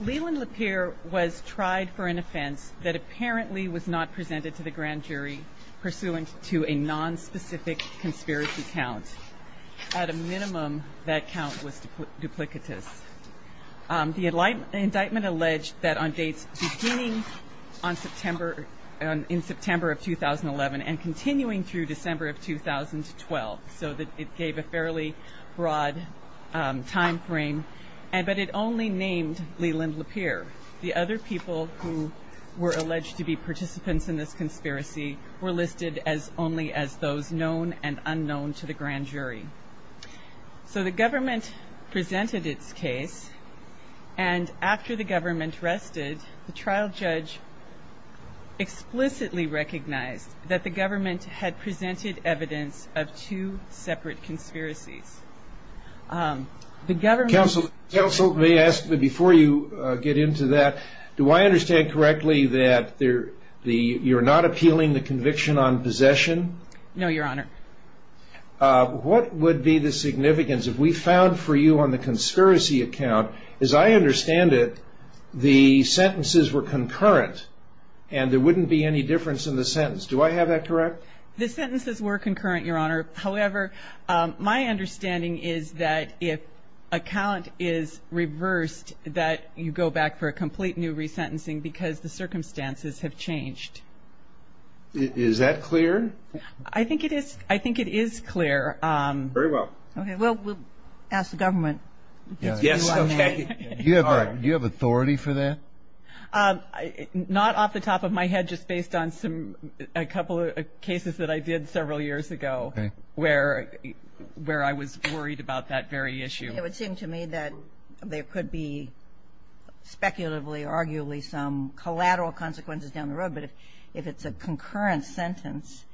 Leland Lapier was tried for an offense that apparently was not presented to the grand jury pursuant to a nonspecific conspiracy count. At a minimum, that count was duplicitous. The indictment alleged that on dates beginning in September of 2011 and continuing through December of 2012, so that it gave a fairly broad time frame, but it only named Leland Lapier. The other people who were alleged to be participants in this conspiracy were listed only as those known and unknown to the grand jury. So the government presented its case, and after the government rested, the trial judge explicitly recognized that the government had presented evidence of two separate conspiracies. The government... Counsel, may I ask, before you get into that, do I understand correctly that you're not appealing the conviction on possession? No, Your Honor. What would be the significance, if we found for you on the conspiracy account, as I understand it, the sentences were concurrent, and there wouldn't be any difference in the sentence. Do I have that correct? The sentences were concurrent, Your Honor. However, my understanding is that if a count is reversed, that you go back for a complete new resentencing because the circumstances have changed. Is that clear? I think it is. I think it is clear. Very well. Okay, well, we'll ask the government. Yes, okay. Do you have authority for that? Not off the top of my head, just based on a couple of cases that I did several years ago where I was worried about that very issue. It would seem to me that there could be speculatively, arguably, some collateral consequences down the road, but if it's a concurrent sentence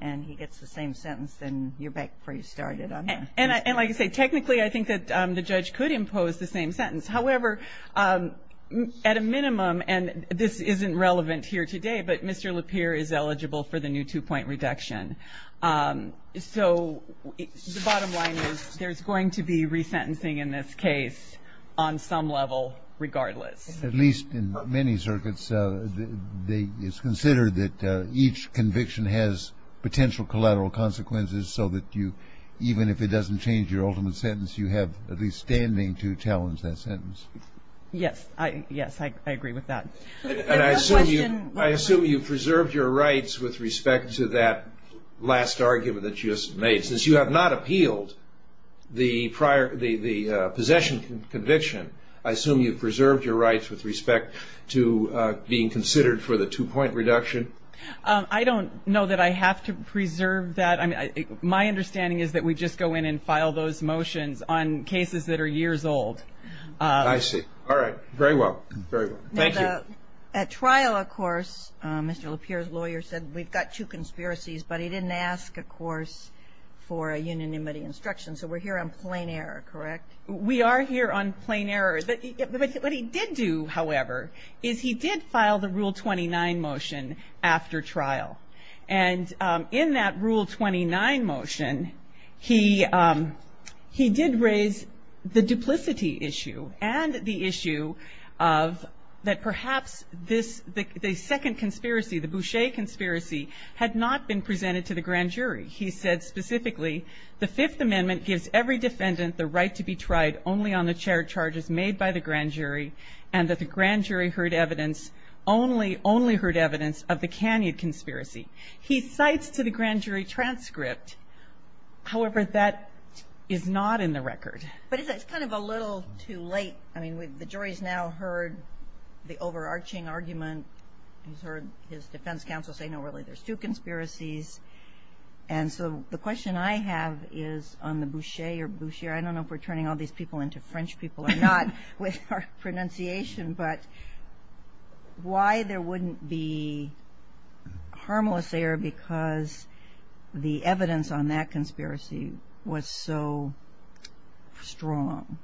and he gets the same sentence, then you're back where you started on that. And like I say, technically, I think that the judge could impose the same sentence. However, at a minimum, and this isn't relevant here today, but Mr. Lapeer is eligible for the new two-point reduction. So the bottom line is there's going to be resentencing in this case on some level regardless. At least in many circuits, it's considered that each conviction has potential collateral consequences so that you, even if it doesn't change your ultimate sentence, you have at least standing to challenge that sentence. Yes. Yes, I agree with that. And I assume you preserved your rights with respect to that last argument that you just made. Since you have not appealed the possession conviction, I assume you preserved your rights with respect to being considered for the two-point reduction. I don't know that I have to preserve that. My understanding is that we just go in and file those motions on cases that are years old. I see. All right. Very well. Thank you. At trial, of course, Mr. Lapeer's lawyer said we've got two conspiracies, but he didn't ask, of course, for a unanimity instruction. So we're here on plain error, correct? We are here on plain error. But what he did do, however, is he did file the Rule 29 motion after trial. And in that Rule 29 motion, he did raise the duplicity issue and the issue of that perhaps the second conspiracy, the Boucher conspiracy, had not been presented to the grand jury. He said specifically the Fifth Amendment gives every defendant the right to be tried only on the charges made by the grand jury and that the grand jury heard evidence, only heard evidence of the Canyon conspiracy. He cites to the grand jury transcript. However, that is not in the record. But it's kind of a little too late. I mean, the jury's now heard the overarching argument. He's heard his defense counsel say, no, really, there's two conspiracies. And so the question I have is on the Boucher or Boucher. I don't know if we're turning all these people into French people or not with our pronunciation. But why there wouldn't be harmless error because the evidence on that conspiracy was so strong?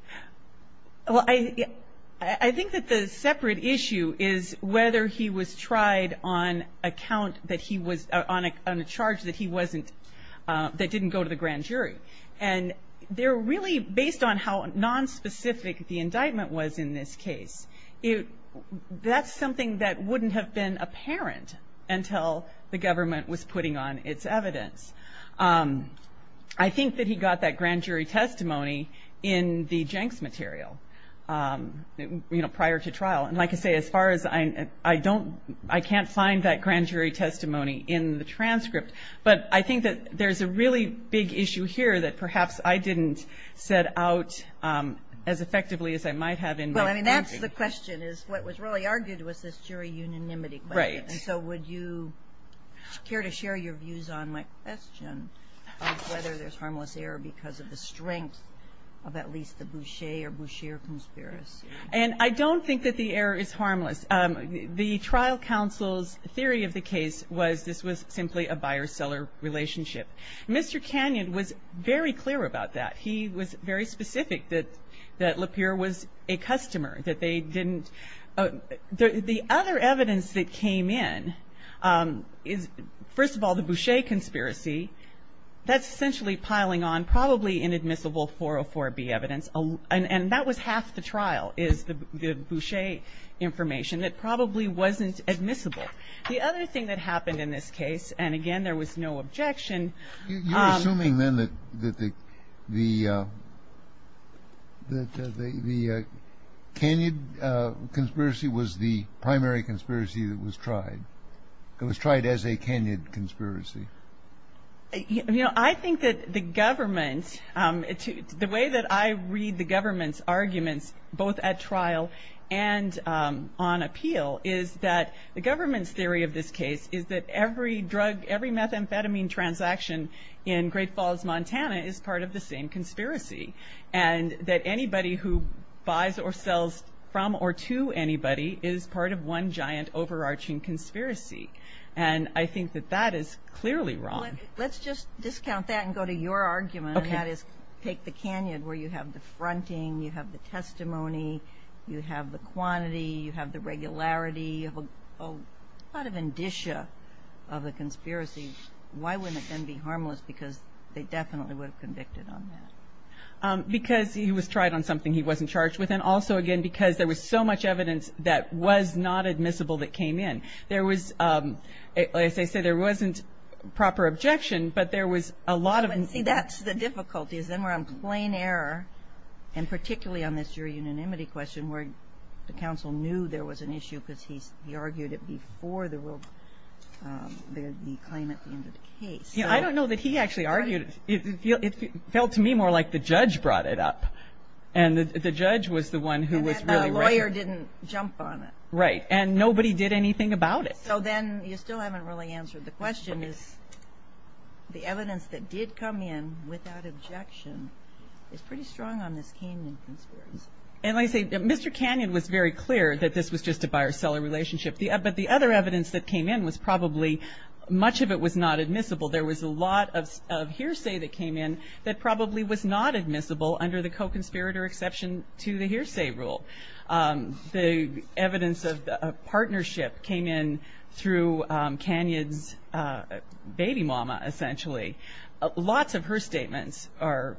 Well, I think that the separate issue is whether he was tried on account that he was on a charge that he wasn't that didn't go to the grand jury. And they're really based on how nonspecific the indictment was in this case. That's something that wouldn't have been apparent until the government was putting on its evidence. I think that he got that grand jury testimony in the Jenks material, you know, prior to trial. And like I say, as far as I don't, I can't find that grand jury testimony in the transcript. But I think that there's a really big issue here that perhaps I didn't set out as effectively as I might have in my thinking. Well, I mean, that's the question, is what was really argued was this jury unanimity question. Right. And so would you care to share your views on my question of whether there's harmless error because of the strength of at least the Boucher or Boucher conspiracy? And I don't think that the error is harmless. The trial counsel's theory of the case was this was simply a buyer-seller relationship. Mr. Canyon was very clear about that. He was very specific that Lapierre was a customer, that they didn't the other evidence that came in is, first of all, the Boucher conspiracy. That's essentially piling on probably inadmissible 404B evidence. And that was half the trial is the Boucher information. It probably wasn't admissible. The other thing that happened in this case, and, again, there was no objection. You're assuming then that the Canyon conspiracy was the primary conspiracy that was tried. It was tried as a Canyon conspiracy. You know, I think that the government, the way that I read the government's arguments both at trial and on appeal is that the government's theory of this case is that every drug, every methamphetamine transaction in Great Falls, Montana, is part of the same conspiracy. And that anybody who buys or sells from or to anybody is part of one giant overarching conspiracy. And I think that that is clearly wrong. Let's just discount that and go to your argument. Okay. And that is take the Canyon where you have the fronting, you have the testimony, you have the quantity, you have the regularity, a lot of indicia of the conspiracy. Why wouldn't it then be harmless? Because they definitely would have convicted on that. Because he was tried on something he wasn't charged with. And also, again, because there was so much evidence that was not admissible that came in. There was, as I say, there wasn't proper objection, but there was a lot of. See, that's the difficulty is then we're on plain error, and particularly on this jury unanimity question where the counsel knew there was an issue because he argued it before the claim at the end of the case. Yeah, I don't know that he actually argued it. It felt to me more like the judge brought it up. And the judge was the one who was really. And the lawyer didn't jump on it. Right, and nobody did anything about it. So then you still haven't really answered the question is the evidence that did come in without objection is pretty strong on this Canyon conspiracy. And like I say, Mr. Canyon was very clear that this was just a buyer-seller relationship. But the other evidence that came in was probably much of it was not admissible. There was a lot of hearsay that came in that probably was not admissible under the co-conspirator exception to the hearsay rule. The evidence of the partnership came in through Canyon's baby mama, essentially. Lots of her statements are,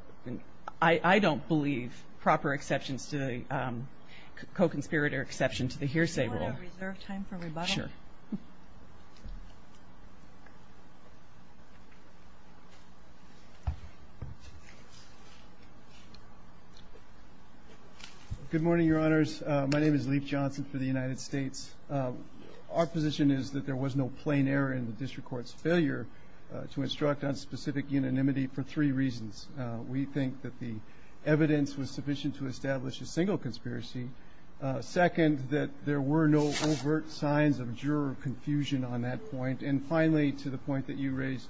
I don't believe, proper exceptions to the co-conspirator exception to the hearsay rule. Do you want to reserve time for rebuttal? Sure. Good morning, Your Honors. My name is Leif Johnson for the United States. Our position is that there was no plain error in the district court's failure to instruct on specific unanimity for three reasons. We think that the evidence was sufficient to establish a single conspiracy. Second, that there were no overt signs of juror confusion on that point. And finally, to the point that you raised,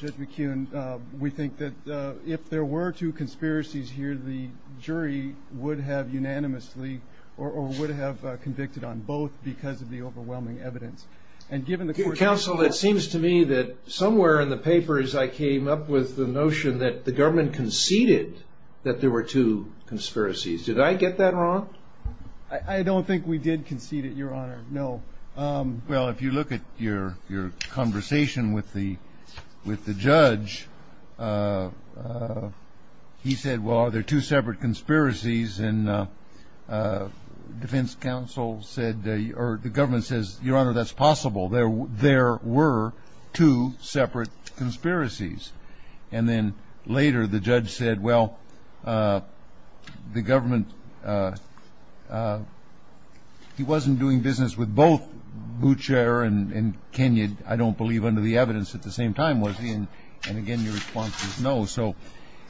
Judge McKeon, we think that if there were two conspiracies here, the jury would have unanimously or would have convicted on both because of the overwhelming evidence. And given the court's- Counsel, it seems to me that somewhere in the papers, I came up with the notion that the government conceded that there were two conspiracies. Did I get that wrong? I don't think we did concede it, Your Honor. No. Well, if you look at your conversation with the judge, he said, well, are there two separate conspiracies? And defense counsel said, or the government says, Your Honor, that's possible. There were two separate conspiracies. And then later the judge said, well, the government, he wasn't doing business with both Boucher and Kenyon, I don't believe, under the evidence at the same time, was he? And again, your response was no. So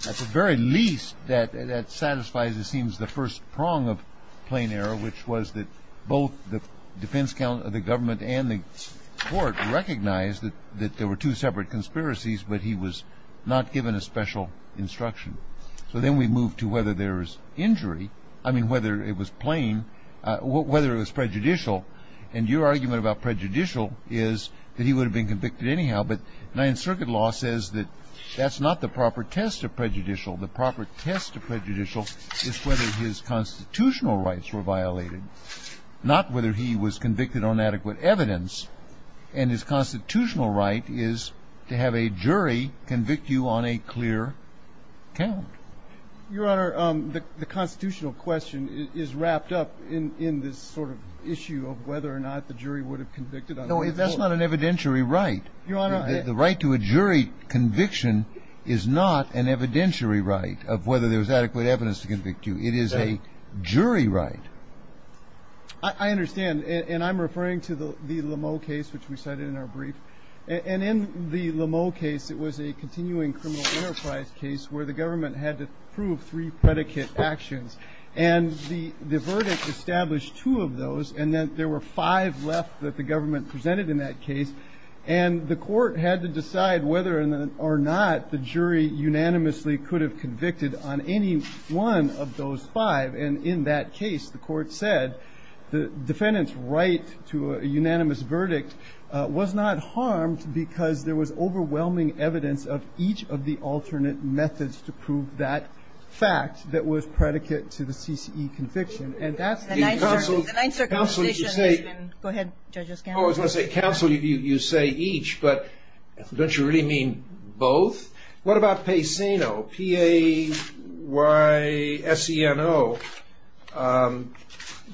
at the very least, that satisfies, it seems, the first prong of plain error, which was that both the defense counsel, the government and the court recognized that there were two separate conspiracies, but he was not given a special instruction. So then we move to whether there was injury, I mean, whether it was plain, whether it was prejudicial. And your argument about prejudicial is that he would have been convicted anyhow. But Ninth Circuit law says that that's not the proper test of prejudicial. The proper test of prejudicial is whether his constitutional rights were violated, not whether he was convicted on adequate evidence. And his constitutional right is to have a jury convict you on a clear count. Your Honor, the constitutional question is wrapped up in this sort of issue of whether or not the jury would have convicted him. No, that's not an evidentiary right. Your Honor. The right to a jury conviction is not an evidentiary right of whether there's adequate evidence to convict you. It is a jury right. I understand. And I'm referring to the Lameau case, which we cited in our brief. And in the Lameau case, it was a continuing criminal enterprise case where the government had to prove three predicate actions. And the verdict established two of those, and there were five left that the government presented in that case. And the court had to decide whether or not the jury unanimously could have convicted on any one of those five. And in that case, the court said the defendant's right to a unanimous verdict was not harmed because there was overwhelming evidence of each of the alternate methods to prove that fact that was predicate to the CCE conviction. And that's the nine circumstances. Counsel, did you say? Go ahead, Judge O'Scanlon. Oh, I was going to say, counsel, you say each, but don't you really mean both? What about Payseno, P-A-Y-S-E-N-O?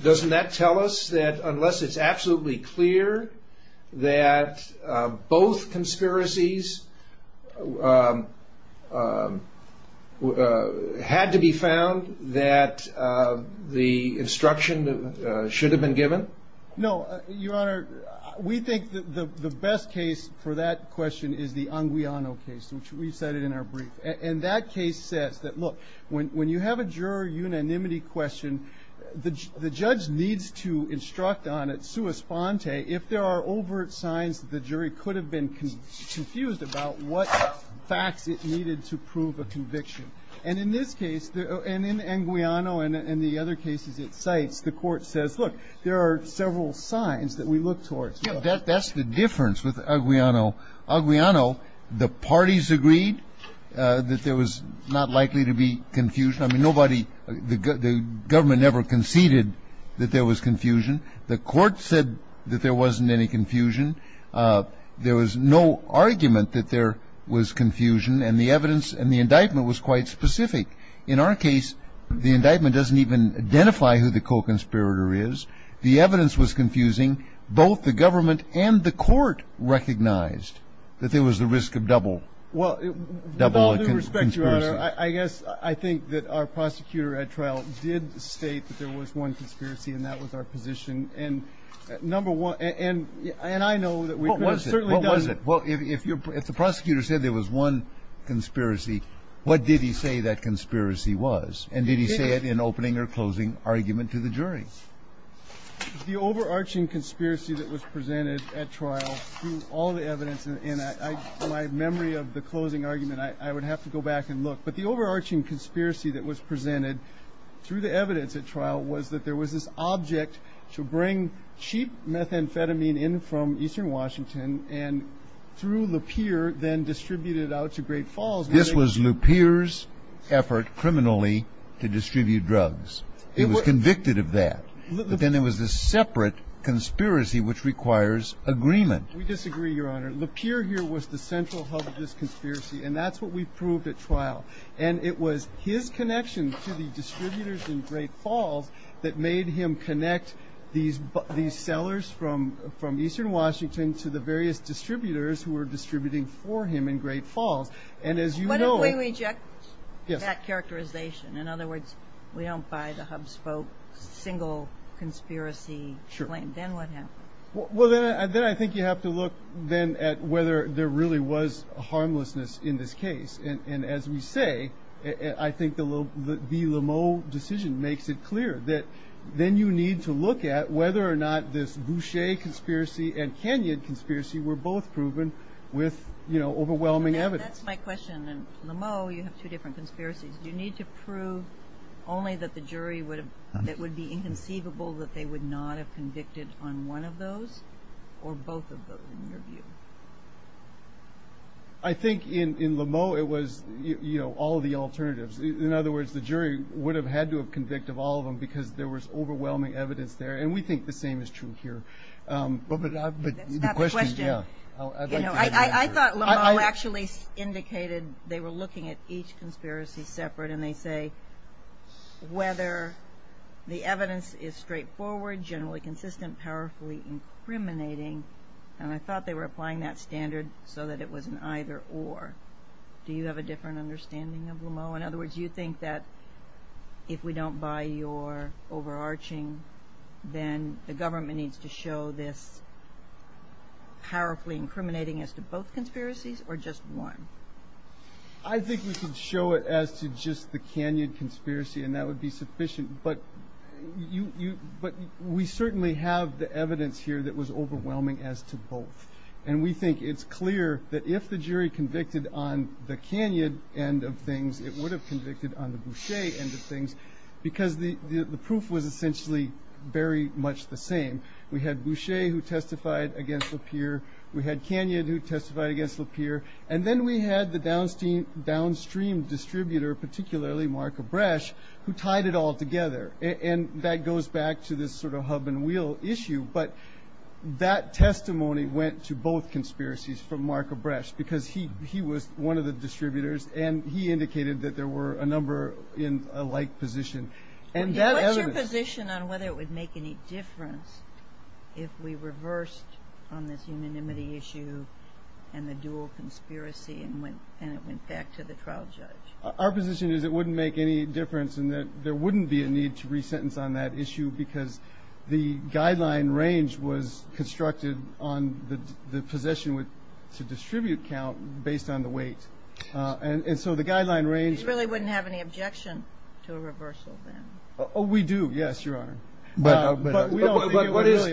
Doesn't that tell us that unless it's absolutely clear that both conspiracies had to be found that the instruction should have been given? No. Your Honor, we think that the best case for that question is the Anguiano case, which we cited in our brief. And that case says that, look, when you have a juror unanimity question, the judge needs to instruct on it sua sponte if there are overt signs that the jury could have been confused about what facts it needed to prove a conviction. And in this case, and in Anguiano and the other cases it cites, the court says, look, there are several signs that we look towards. That's the difference with Anguiano. Anguiano, the parties agreed that there was not likely to be confusion. I mean, nobody, the government never conceded that there was confusion. The court said that there wasn't any confusion. There was no argument that there was confusion. And the evidence and the indictment was quite specific. In our case, the indictment doesn't even identify who the co-conspirator is. The evidence was confusing. Both the government and the court recognized that there was the risk of double. Well, with all due respect, Your Honor, I guess I think that our prosecutor at trial did state that there was one conspiracy, and that was our position. And number one, and I know that we could have certainly done. What was it? Well, if the prosecutor said there was one conspiracy, what did he say that conspiracy was? And did he say it in opening or closing argument to the jury? The overarching conspiracy that was presented at trial through all the evidence, and in my memory of the closing argument, I would have to go back and look. But the overarching conspiracy that was presented through the evidence at trial was that there was this object to bring cheap methamphetamine in from eastern Washington and through Lupeer then distribute it out to Great Falls. This was Lupeer's effort criminally to distribute drugs. He was convicted of that. But then there was this separate conspiracy which requires agreement. We disagree, Your Honor. Lupeer here was the central hub of this conspiracy, and that's what we proved at trial. And it was his connection to the distributors in Great Falls that made him connect these sellers from eastern Washington to the various distributors who were distributing for him in Great Falls. And as you know. What if we reject that characterization? In other words, we don't buy the Hubspoke single conspiracy claim. Sure. Then what happens? Well, then I think you have to look then at whether there really was harmlessness in this case. And as we say, I think the Lameau decision makes it clear that then you need to look at whether or not this Boucher conspiracy and Kenyon conspiracy were both proven with overwhelming evidence. That's my question. In Lameau, you have two different conspiracies. Do you need to prove only that the jury would be inconceivable that they would not have convicted on one of those or both of those in your view? I think in Lameau it was, you know, all of the alternatives. In other words, the jury would have had to have convicted all of them because there was overwhelming evidence there. And we think the same is true here. That's not the question. I thought Lameau actually indicated they were looking at each conspiracy separate and they say whether the evidence is straightforward, generally consistent, powerfully incriminating. And I thought they were applying that standard so that it was an either or. Do you have a different understanding of Lameau? In other words, you think that if we don't buy your overarching, then the government needs to show this powerfully incriminating as to both conspiracies or just one? I think we could show it as to just the Kenyon conspiracy and that would be sufficient. But we certainly have the evidence here that was overwhelming as to both. And we think it's clear that if the jury convicted on the Kenyon end of things, it would have convicted on the Boucher end of things because the proof was essentially very much the same. We had Boucher who testified against Lapeer. We had Kenyon who testified against Lapeer. And then we had the downstream distributor, particularly Mark Abresch, who tied it all together. And that goes back to this sort of hub and wheel issue. But that testimony went to both conspiracies from Mark Abresch because he was one of the distributors and he indicated that there were a number in a like position. And that evidence ---- What's your position on whether it would make any difference if we reversed on this unanimity issue and the dual conspiracy and it went back to the trial judge? Our position is it wouldn't make any difference and that there wouldn't be a need to resentence on that issue because the guideline range was constructed on the possession to distribute count based on the weight. And so the guideline range ---- You really wouldn't have any objection to a reversal then? Oh, we do. Yes, Your Honor. But what is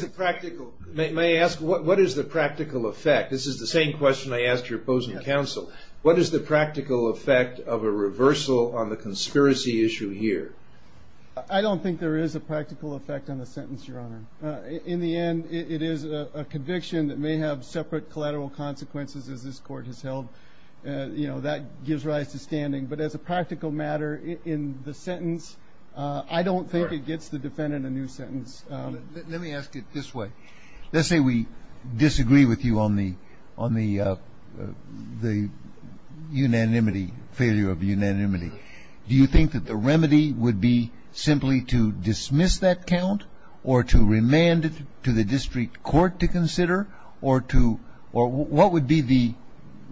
the practical effect? This is the same question I asked your opposing counsel. What is the practical effect of a reversal on the conspiracy issue here? I don't think there is a practical effect on the sentence, Your Honor. In the end, it is a conviction that may have separate collateral consequences as this court has held. That gives rise to standing. But as a practical matter, in the sentence, I don't think it gets the defendant a new sentence. Let me ask it this way. Let's say we disagree with you on the unanimity, failure of unanimity. Do you think that the remedy would be simply to dismiss that count or to remand it to the district court to consider or what would be the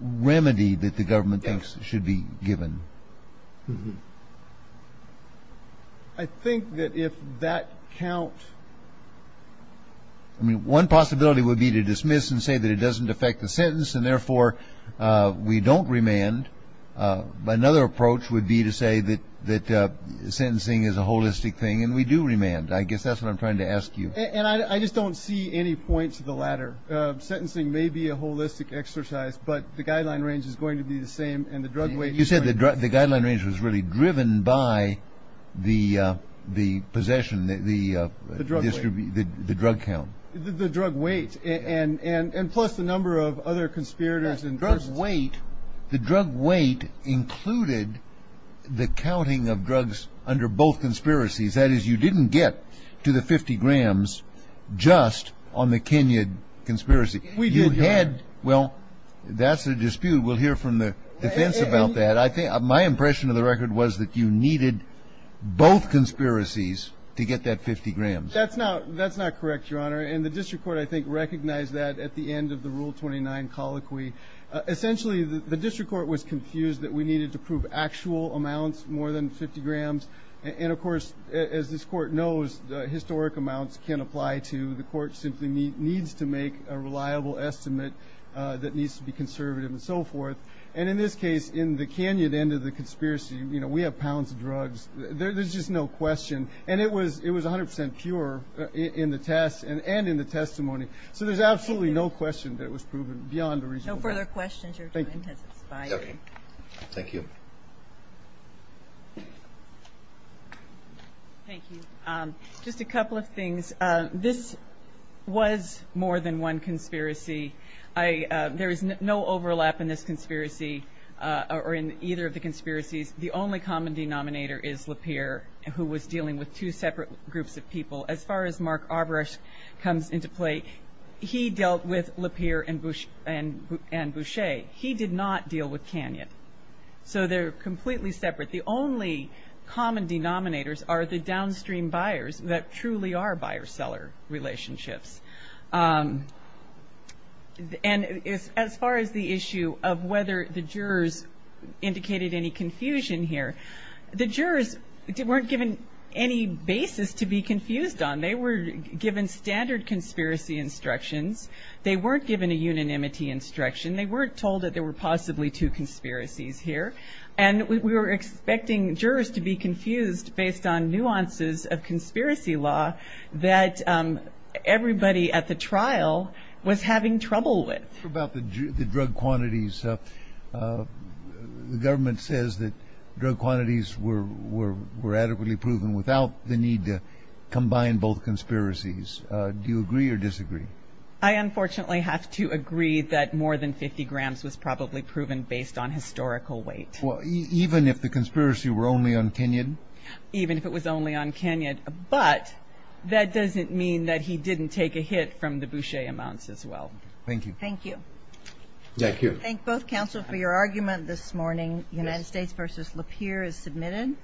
remedy that the government thinks should be given? I think that if that count ---- I mean, one possibility would be to dismiss and say that it doesn't affect the sentence and therefore we don't remand. Another approach would be to say that sentencing is a holistic thing and we do remand. I guess that's what I'm trying to ask you. And I just don't see any point to the latter. Sentencing may be a holistic exercise, but the guideline range is going to be the same and the drug weight. You said the guideline range was really driven by the possession, the drug count. The drug weight and plus the number of other conspirators. The drug weight included the counting of drugs under both conspiracies. That is, you didn't get to the 50 grams just on the Kenyan conspiracy. We did not. Well, that's a dispute. We'll hear from the defense about that. My impression of the record was that you needed both conspiracies to get that 50 grams. That's not correct, Your Honor. And the district court, I think, recognized that at the end of the Rule 29 colloquy. Essentially, the district court was confused that we needed to prove actual amounts more than 50 grams. And, of course, as this Court knows, historic amounts can't apply to. The Court simply needs to make a reliable estimate that needs to be conservative and so forth. And in this case, in the Kenyan end of the conspiracy, you know, we have pounds of drugs. There's just no question. And it was 100 percent pure in the test and in the testimony. So there's absolutely no question that it was proven beyond a reasonable doubt. No further questions. Your time has expired. Thank you. Thank you. Just a couple of things. This was more than one conspiracy. There is no overlap in this conspiracy or in either of the conspiracies. The only common denominator is Lapierre, who was dealing with two separate groups of people. As far as Mark Arboresque comes into play, he dealt with Lapierre and Boucher. He did not deal with Kenyan. So they're completely separate. The only common denominators are the downstream buyers that truly are buyer-seller relationships. And as far as the issue of whether the jurors indicated any confusion here, the jurors weren't given any basis to be confused on. They were given standard conspiracy instructions. They weren't given a unanimity instruction. They weren't told that there were possibly two conspiracies here. And we were expecting jurors to be confused based on nuances of conspiracy law that everybody at the trial was having trouble with. About the drug quantities, the government says that drug quantities were adequately proven without the need to combine both conspiracies. Do you agree or disagree? I unfortunately have to agree that more than 50 grams was probably proven based on historical weight. Well, even if the conspiracy were only on Kenyan? Even if it was only on Kenyan. But that doesn't mean that he didn't take a hit from the Boucher amounts as well. Thank you. Thank you. Thank you. I thank both counsel for your argument this morning. United States v. Lapierre is submitted.